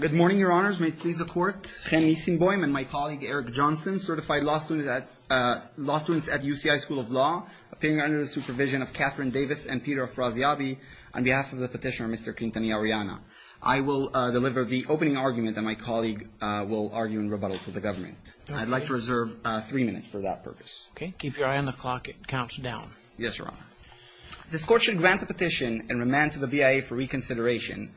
Good morning, Your Honors. May it please the Court. Chen Nissenboim and my colleague Eric Johnson, certified law students at UCI School of Law, appearing under the supervision of Catherine Davis and Peter Afraziabi, on behalf of the petitioner, Mr. Quintanilla Orellana. I will deliver the opening argument, and my colleague will argue in rebuttal to the government. I'd like to reserve three minutes for that purpose. Okay. Keep your eye on the clock. It counts down. Yes, Your Honor. This Court should grant the petition and remand to the BIA for reconsideration.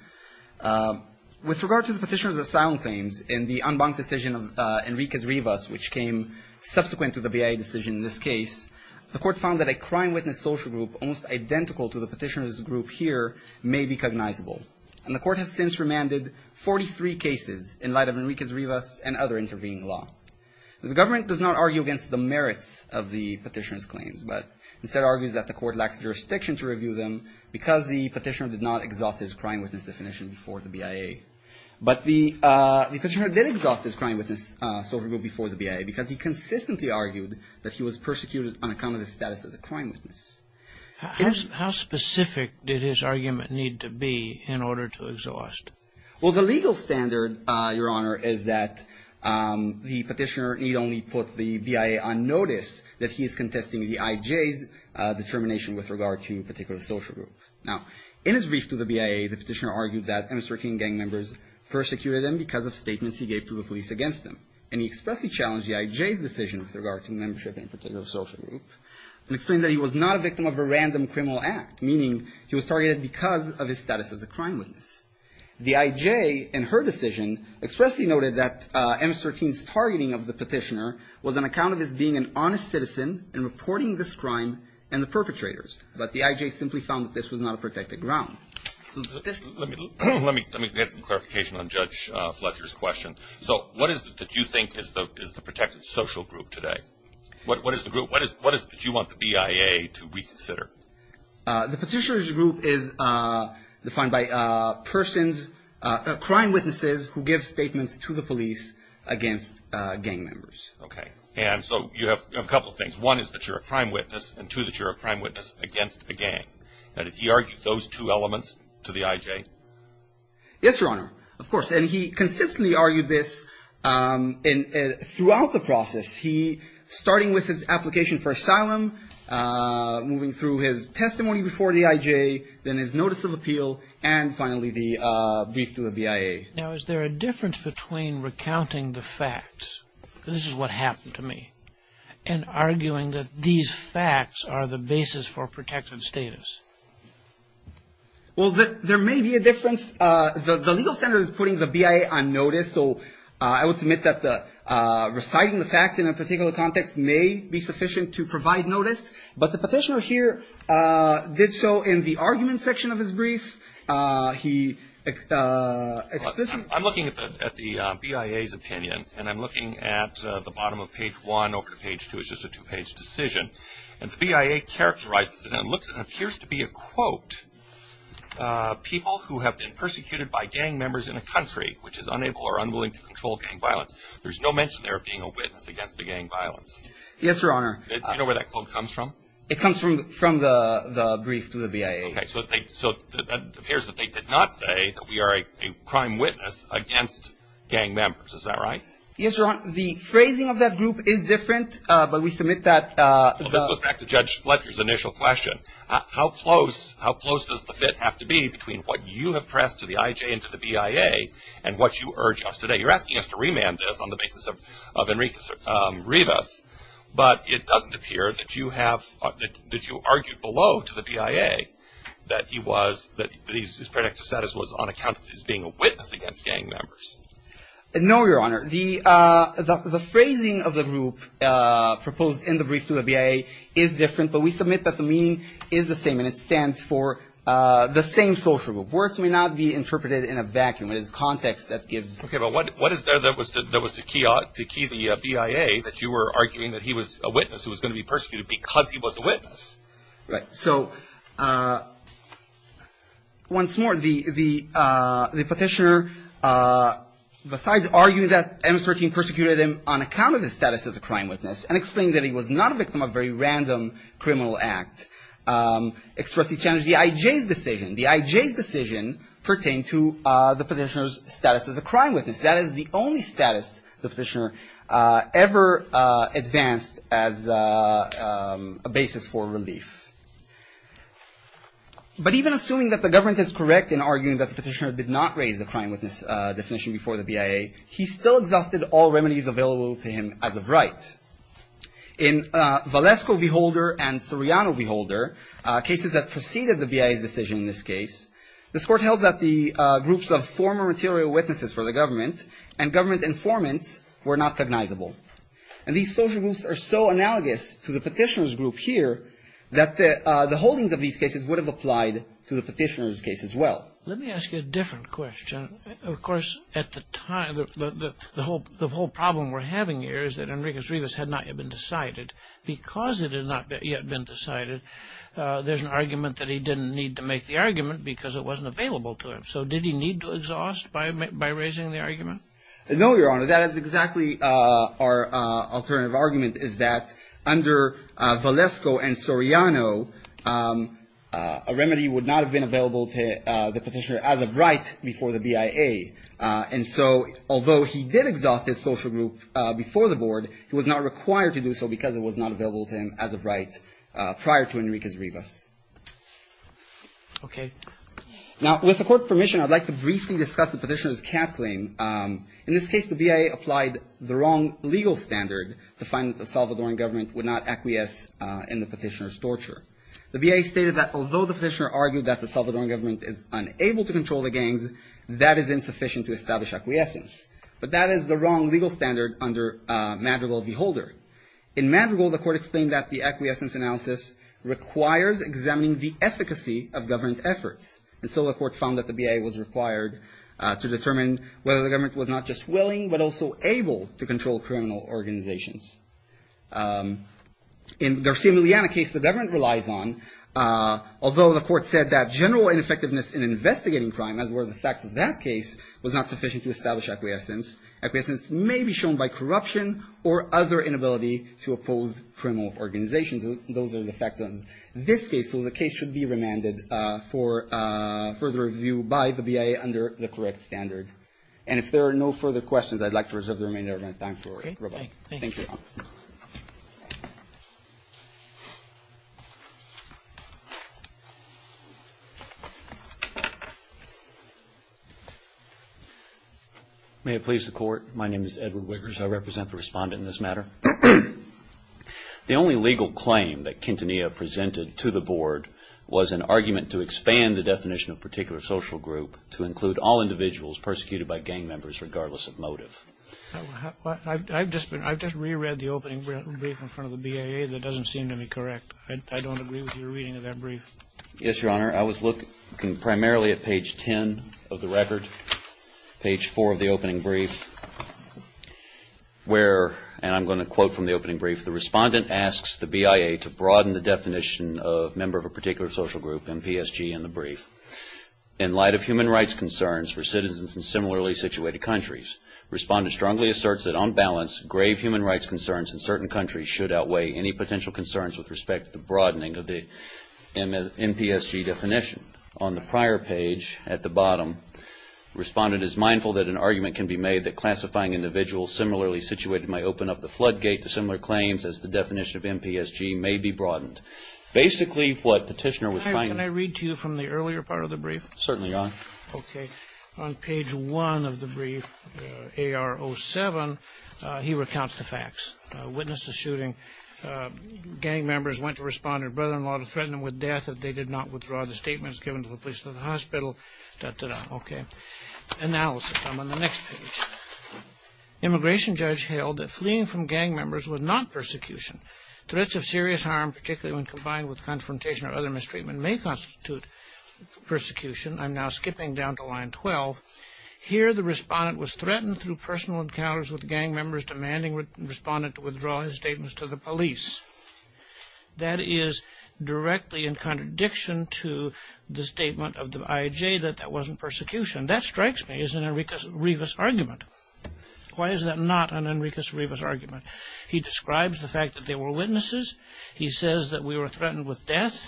With regard to the petitioner's asylum claims in the en banc decision of Enriquez-Rivas, which came subsequent to the BIA decision in this case, the Court found that a crime witness social group almost identical to the petitioner's group here may be cognizable. And the Court has since remanded 43 cases in light of Enriquez-Rivas and other intervening law. The government does not argue against the merits of the petitioner's claims, but instead argues that the Court lacks jurisdiction to review them because the petitioner did not exhaust his crime witness definition before the BIA. But the petitioner did exhaust his crime witness social group before the BIA because he consistently argued that he was persecuted on account of his status as a crime witness. How specific did his argument need to be in order to exhaust? Well, the legal standard, Your Honor, is that the petitioner need only put the BIA on notice that he is contesting the I.J.'s determination with regard to a particular social group. Now, in his brief to the BIA, the petitioner argued that MS-13 gang members persecuted him because of statements he gave to the police against him. And he expressly challenged the I.J.'s decision with regard to membership in a particular social group and explained that he was not a victim of a random criminal act, meaning he was targeted because of his status as a crime witness. The I.J. in her decision expressly noted that MS-13's targeting of the petitioner was on account of his being an honest citizen and reporting this crime and the perpetrators. But the I.J. simply found that this was not a protected ground. Let me get some clarification on Judge Fletcher's question. So what is it that you think is the protected social group today? What is the group? What is it that you want the BIA to reconsider? The petitioner's group is defined by persons, crime witnesses, who give statements to the police against gang members. Okay. And so you have a couple of things. One is that you're a crime witness, and two, that you're a crime witness against a gang. Now, did he argue those two elements to the I.J.? Yes, Your Honor, of course. And he consistently argued this throughout the process. He, starting with his application for asylum, moving through his testimony before the I.J., then his notice of appeal, and finally the brief to the BIA. Now, is there a difference between recounting the facts, this is what happened to me, and arguing that these facts are the basis for protective status? Well, there may be a difference. The legal standard is putting the BIA on notice, so I would submit that reciting the facts in a particular context may be sufficient to provide notice. But the petitioner here did so in the argument section of his brief. I'm looking at the BIA's opinion, and I'm looking at the bottom of page one over to page two. It's just a two-page decision. And the BIA characterizes it, and it appears to be a quote, people who have been persecuted by gang members in a country, which is unable or unwilling to control gang violence. There's no mention there of being a witness against the gang violence. Yes, Your Honor. It comes from the brief to the BIA. Okay. So it appears that they did not say that we are a crime witness against gang members. Is that right? Yes, Your Honor. The phrasing of that group is different, but we submit that. This goes back to Judge Fletcher's initial question. How close does the fit have to be between what you have pressed to the IJ and to the BIA, and what you urge us today? You're asking us to remand this on the basis of Enriquez Rivas, but it doesn't appear that you have argued below to the BIA that he was, that his predictive status was on account of his being a witness against gang members. No, Your Honor. The phrasing of the group proposed in the brief to the BIA is different, but we submit that the meaning is the same, and it stands for the same social group. Words may not be interpreted in a vacuum. It is context that gives. Okay. But what is there that was to key the BIA that you were arguing that he was a witness who was going to be persecuted because he was a witness? Right. So once more, the petitioner, besides arguing that MS-13 persecuted him on account of his status as a crime witness and explaining that he was not a victim of a very random criminal act, expressly challenged the IJ's decision. The IJ's decision pertained to the petitioner's status as a crime witness. That is the only status the petitioner ever advanced as a basis for relief. But even assuming that the government is correct in arguing that the petitioner did not raise a crime witness definition before the BIA, he still exhausted all remedies available to him as of right. In Valesko v. Holder and Soriano v. Holder, cases that preceded the BIA's decision in this case, this Court held that the groups of former material witnesses for the government and government informants were not cognizable. And these social groups are so analogous to the petitioner's group here that the holdings of these cases would have applied to the petitioner's case as well. Let me ask you a different question. Of course, at the time, the whole problem we're having here is that Enriquez-Rivas had not yet been decided. Because it had not yet been decided, there's an argument that he didn't need to make the argument because it wasn't available to him. So did he need to exhaust by raising the argument? No, Your Honor. That is exactly our alternative argument is that under Valesko and Soriano, a remedy would not have been available to the petitioner as of right before the BIA. And so although he did exhaust his social group before the Board, he was not required to do so because it was not available to him as of right prior to Enriquez-Rivas. Okay. Now, with the Court's permission, I'd like to briefly discuss the petitioner's CAF claim. In this case, the BIA applied the wrong legal standard to find that the Salvadoran government would not acquiesce in the petitioner's torture. The BIA stated that although the petitioner argued that the Salvadoran government is unable to control the gangs, that is insufficient to establish acquiescence. But that is the wrong legal standard under Madrigal v. Holder. In Madrigal, the Court explained that the acquiescence analysis requires examining the efficacy of government efforts. And so the Court found that the BIA was required to determine whether the government was not just willing but also able to control criminal organizations. In Garcia-Miliana case, the government relies on, although the Court said that general ineffectiveness in investigating crime, as were the facts of that case, was not sufficient to establish acquiescence. Acquiescence may be shown by corruption or other inability to oppose criminal organizations. Those are the facts of this case. So the case should be remanded for further review by the BIA under the correct standard. And if there are no further questions, I'd like to reserve the remainder of my time for rebuttal. Thank you, Your Honor. May it please the Court. My name is Edward Wickers. I represent the respondent in this matter. The only legal claim that Quintanilla presented to the Board was an argument to expand the definition of particular social group to include all individuals persecuted by gang members regardless of motive. I've just reread the opening brief in front of the BIA that doesn't seem to be correct. I don't agree with your reading of that brief. Yes, Your Honor. I was looking primarily at page 10 of the record, page 4 of the opening brief, where, and I'm going to quote from the opening brief, the respondent asks the BIA to broaden the definition of member of a particular social group in PSG in the brief. In light of human rights concerns for citizens in similarly situated countries, respondent strongly asserts that on balance, grave human rights concerns in certain countries should outweigh any potential concerns with respect to the broadening of the MPSG definition. On the prior page at the bottom, respondent is mindful that an argument can be made that classifying individuals similarly situated might open up the floodgate to similar claims as the definition of MPSG may be broadened. Basically, what petitioner was trying to do from the earlier part of the brief? Certainly, Your Honor. Okay. On page 1 of the brief, AR 07, he recounts the facts. Witnessed the shooting. Gang members went to respondent. Brethren, a lot of threatening with death if they did not withdraw the statements given to the police and the hospital. Okay. Analysis. I'm on the next page. Immigration judge held that fleeing from gang members was not persecution. Threats of serious harm, particularly when combined with confrontation or other mistreatment, may constitute persecution. I'm now skipping down to line 12. Here, the respondent was threatened through personal encounters with gang members, demanding respondent to withdraw his statements to the police. That is directly in contradiction to the statement of the IAJ that that wasn't persecution. That strikes me as an Enriquez-Rivas argument. Why is that not an Enriquez-Rivas argument? He describes the fact that there were witnesses. He says that we were threatened with death.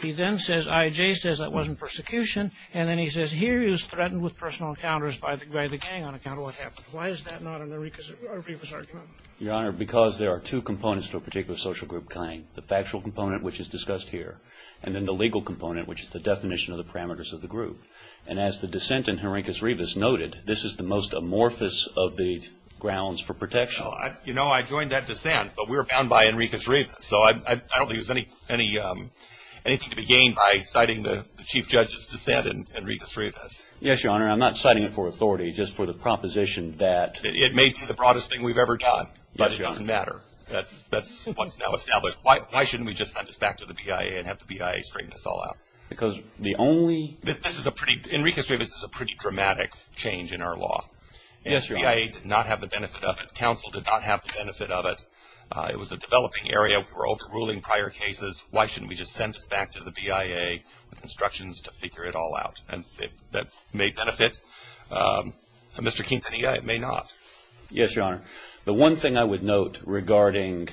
He then says IAJ says that wasn't persecution. And then he says here he was threatened with personal encounters by the gang on account of what happened. Why is that not an Enriquez-Rivas argument? Your Honor, because there are two components to a particular social group claim, the factual component, which is discussed here, and then the legal component, which is the definition of the parameters of the group. And as the dissent in Enriquez-Rivas noted, this is the most amorphous of the grounds for protection. You know, I joined that dissent, but we were bound by Enriquez-Rivas. So I don't think there's anything to be gained by citing the chief judge's dissent in Enriquez-Rivas. Yes, Your Honor. I'm not citing it for authority, just for the proposition that— It may be the broadest thing we've ever done, but it doesn't matter. That's what's now established. Why shouldn't we just send this back to the BIA and have the BIA straighten this all out? Because the only— Yes, Your Honor. The BIA did not have the benefit of it. Counsel did not have the benefit of it. It was a developing area. We were overruling prior cases. Why shouldn't we just send this back to the BIA with instructions to figure it all out? And that may benefit Mr. Quintanilla. It may not. Yes, Your Honor. The one thing I would note regarding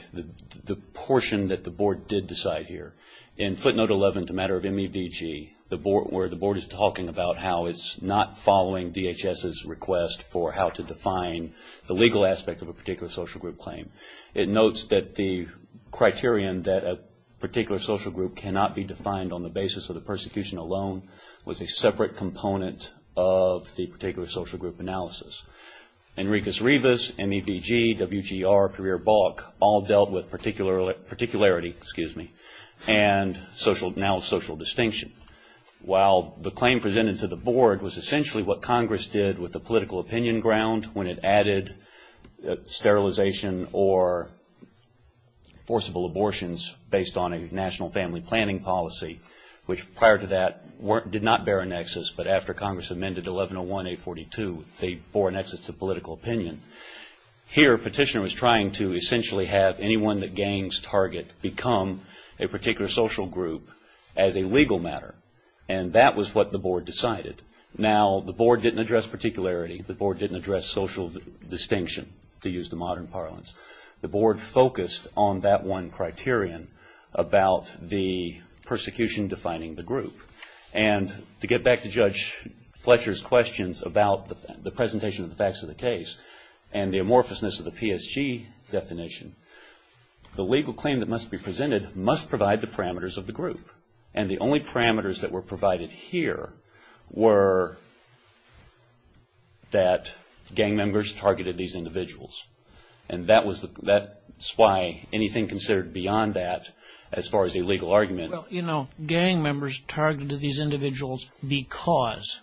the portion that the Board did decide here, in footnote 11, the matter of MEVG, where the Board is talking about how it's not following DHS's request for how to define the legal aspect of a particular social group claim. It notes that the criterion that a particular social group cannot be defined on the basis of the persecution alone was a separate component of the particular social group analysis. Enriquez-Rivas, MEVG, WGR, Perrier-Balk, all dealt with particularity and now social distinction. While the claim presented to the Board was essentially what Congress did with the political opinion ground when it added sterilization or forcible abortions based on a national family planning policy, which prior to that did not bear a nexus, but after Congress amended 1101A42, they bore a nexus to political opinion. Here, Petitioner was trying to essentially have anyone that gains target become a particular social group as a legal matter. And that was what the Board decided. Now, the Board didn't address particularity. The Board didn't address social distinction, to use the modern parlance. The Board focused on that one criterion about the persecution defining the group. And to get back to Judge Fletcher's questions about the presentation of the facts of the case and the amorphousness of the PSG definition, the legal claim that must be presented must provide the parameters of the group. And the only parameters that were provided here were that gang members targeted these individuals. And that was why anything considered beyond that, as far as a legal argument Well, you know, gang members targeted these individuals because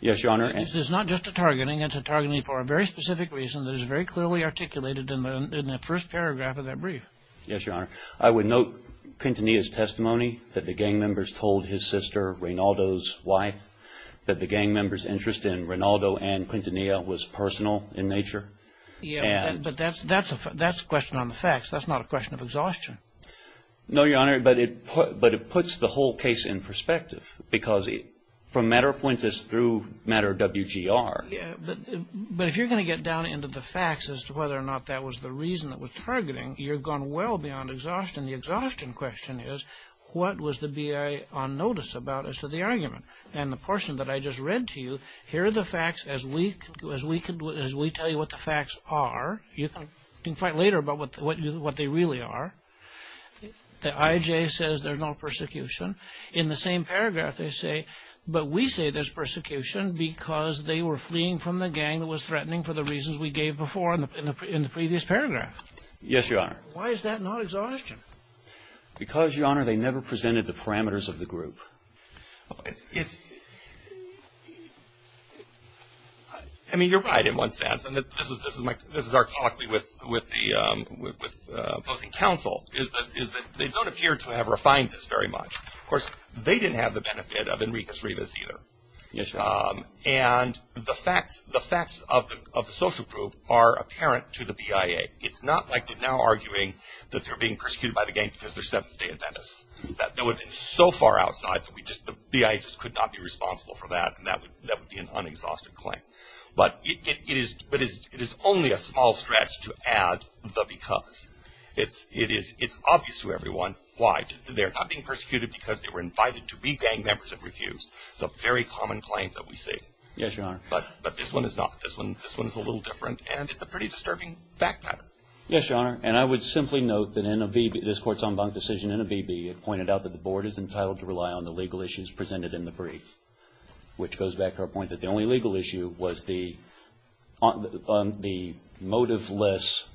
Yes, Your Honor. It's not just a targeting. It's a targeting for a very specific reason that is very clearly articulated in the first paragraph of that brief. Yes, Your Honor. I would note Quintanilla's testimony that the gang members told his sister, Rinaldo's wife, that the gang members' interest in Rinaldo and Quintanilla was personal in nature. Yeah, but that's a question on the facts. That's not a question of exhaustion. No, Your Honor, but it puts the whole case in perspective because from matter of points, it's through matter of WGR. Yeah, but if you're going to get down into the facts as to whether or not that was the reason that was targeting, you've gone well beyond exhaustion. The exhaustion question is what was the BIA on notice about as to the argument? And the portion that I just read to you, here are the facts as we tell you what the facts are. You can fight later about what they really are. The IJ says there's no persecution. In the same paragraph, they say, but we say there's persecution because they were fleeing from the gang that was threatening for the reasons we gave before in the previous paragraph. Yes, Your Honor. Why is that not exhaustion? It's, I mean, you're right in one sense, and this is archaically with opposing counsel, is that they don't appear to have refined this very much. Of course, they didn't have the benefit of Enriquez-Rivas either. And the facts of the social group are apparent to the BIA. It's not like they're now arguing that they're being persecuted by the gang because their seventh day in Venice. That would have been so far outside that the BIA just could not be responsible for that, and that would be an unexhausted claim. But it is only a small stretch to add the because. It's obvious to everyone why. They're not being persecuted because they were invited to be gang members and refused. It's a very common claim that we see. Yes, Your Honor. But this one is not. This one is a little different, and it's a pretty disturbing fact pattern. Yes, Your Honor. And I would simply note that in this Court's en banc decision in a BB, it pointed out that the Board is entitled to rely on the legal issues presented in the brief, which goes back to our point that the only legal issue was the motive-less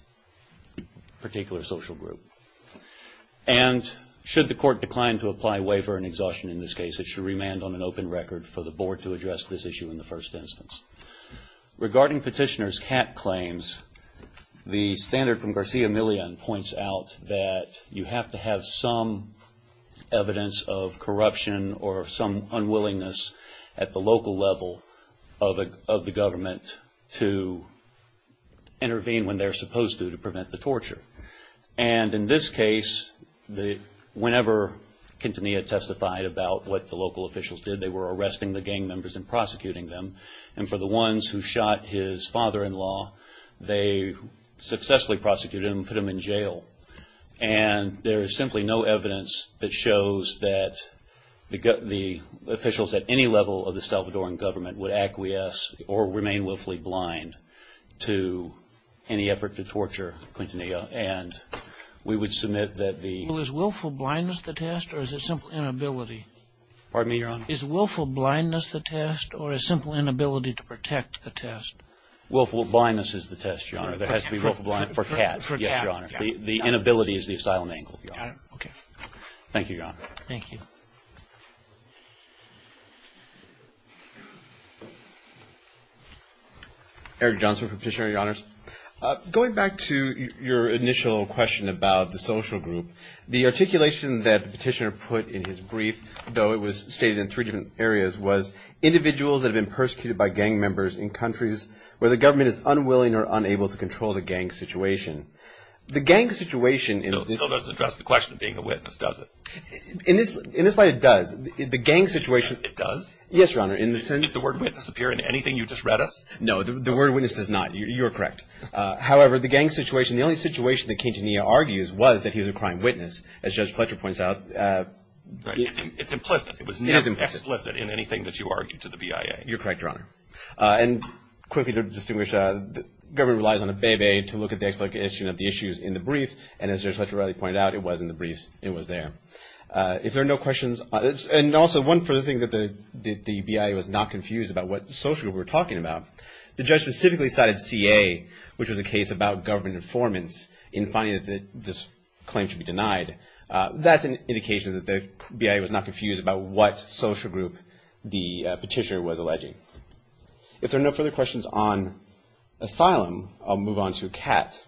particular social group. And should the Court decline to apply waiver and exhaustion in this case, it should remand on an open record for the Board to address this issue in the first instance. Regarding Petitioner's cat claims, the standard from Garcia-Millian points out that you have to have some evidence of corruption or some unwillingness at the local level of the government to intervene when they're supposed to to prevent the torture. And in this case, whenever Quintanilla testified about what the local officials did, they were arresting the gang members and prosecuting them. And for the ones who shot his father-in-law, they successfully prosecuted him and put him in jail. And there is simply no evidence that shows that the officials at any level of the Salvadoran government would acquiesce or remain willfully blind to any effort to torture Quintanilla. And we would submit that the... Well, is willful blindness the test, or is it simple inability? Pardon me, Your Honor? Is willful blindness the test, or is simple inability to protect the test? Willful blindness is the test, Your Honor. For cats. For cats, yes, Your Honor. The inability is the asylum angle, Your Honor. Okay. Thank you, Your Honor. Thank you. Eric Johnson for Petitioner, Your Honors. Going back to your initial question about the social group, the articulation that Petitioner put in his brief, though it was stated in three different areas, was individuals that have been persecuted by gang members in countries where the government is unwilling or unable to control the gang situation. The gang situation... Still doesn't address the question of being a witness, does it? In this light, it does. The gang situation... It does? Yes, Your Honor. Does the word witness appear in anything you just read us? No. The word witness does not. You're correct. However, the gang situation, the only situation that Quintanilla argues was that he was a crime witness. As Judge Fletcher points out... It's implicit. It is implicit. It was not explicit in anything that you argued to the BIA. You're correct, Your Honor. And quickly to distinguish, the government relies on a bébé to look at the explication of the issues in the brief, and as Judge Fletcher rightly pointed out, it was in the briefs. It was there. If there are no questions... And also, one further thing that the BIA was not confused about what social group we're talking about, the judge specifically cited CA, which was a case about government informants, in finding that this claim should be denied. That's an indication that the BIA was not confused about what social group the petitioner was alleging. If there are no further questions on asylum, I'll move on to CAT.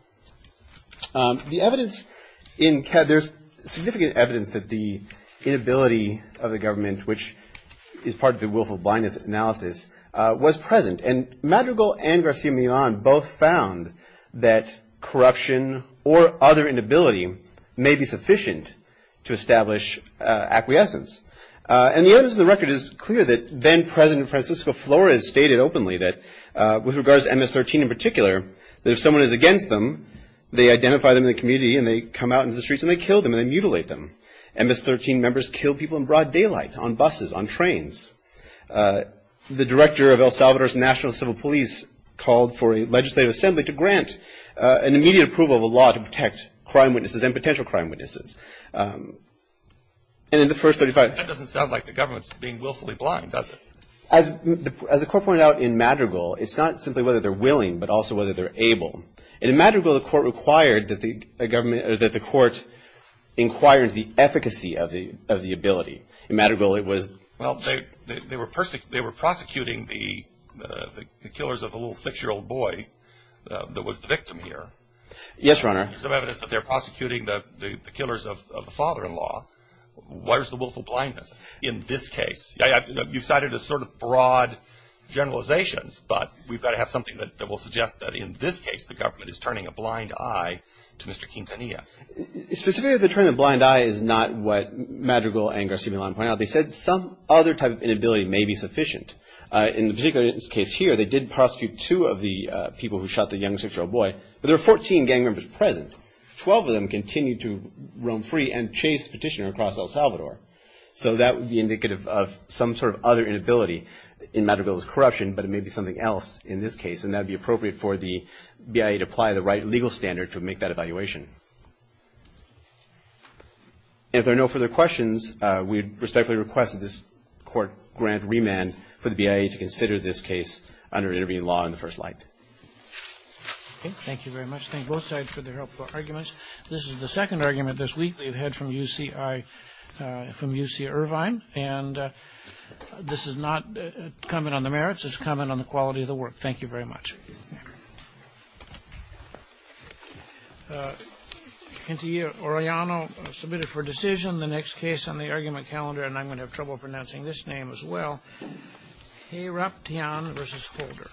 The evidence in CAT, there's significant evidence that the inability of the government, which is part of the willful blindness analysis, was present. And Madrigal and García Milán both found that corruption or other inability may be sufficient to establish acquiescence. And the evidence in the record is clear that then-President Francisco Flores stated openly that, with regards to MS-13 in particular, that if someone is against them, they identify them in the community, and they come out into the streets, and they kill them, and they mutilate them. MS-13 members kill people in broad daylight, on buses, on trains. The director of El Salvador's National Civil Police called for a legislative assembly to grant an immediate approval of a law to protect crime witnesses and potential crime witnesses. And in the first 35- That doesn't sound like the government's being willfully blind, does it? As the court pointed out in Madrigal, it's not simply whether they're willing, but also whether they're able. And in Madrigal, the court required that the government or that the court inquire into the efficacy of the ability. In Madrigal, it was- Well, they were prosecuting the killers of the little six-year-old boy that was the victim here. Yes, Your Honor. There's some evidence that they're prosecuting the killers of the father-in-law. Where's the willful blindness in this case? You cited a sort of broad generalizations, but we've got to have something that will suggest that in this case the government is turning a blind eye to Mr. Quintanilla. Specifically, they're turning a blind eye is not what Madrigal and Garciaballon pointed out. They said some other type of inability may be sufficient. In the particular case here, they did prosecute two of the people who shot the young six-year-old boy, but there were 14 gang members present. Twelve of them continued to roam free and chase the petitioner across El Salvador. So that would be indicative of some sort of other inability in Madrigal's corruption, but it may be something else in this case, and that would be appropriate for the BIA to apply the right legal standard to make that evaluation. If there are no further questions, we respectfully request that this court grant remand for the BIA to consider this case under intervening law in the first light. Thank you very much. Thank both sides for their helpful arguments. This is the second argument this week we've had from UC Irvine, and this is not a comment on the merits. It's a comment on the quality of the work. Thank you very much. Kentia Orellano submitted for decision the next case on the argument calendar, and I'm going to have trouble pronouncing this name as well. Heroption v. Holder.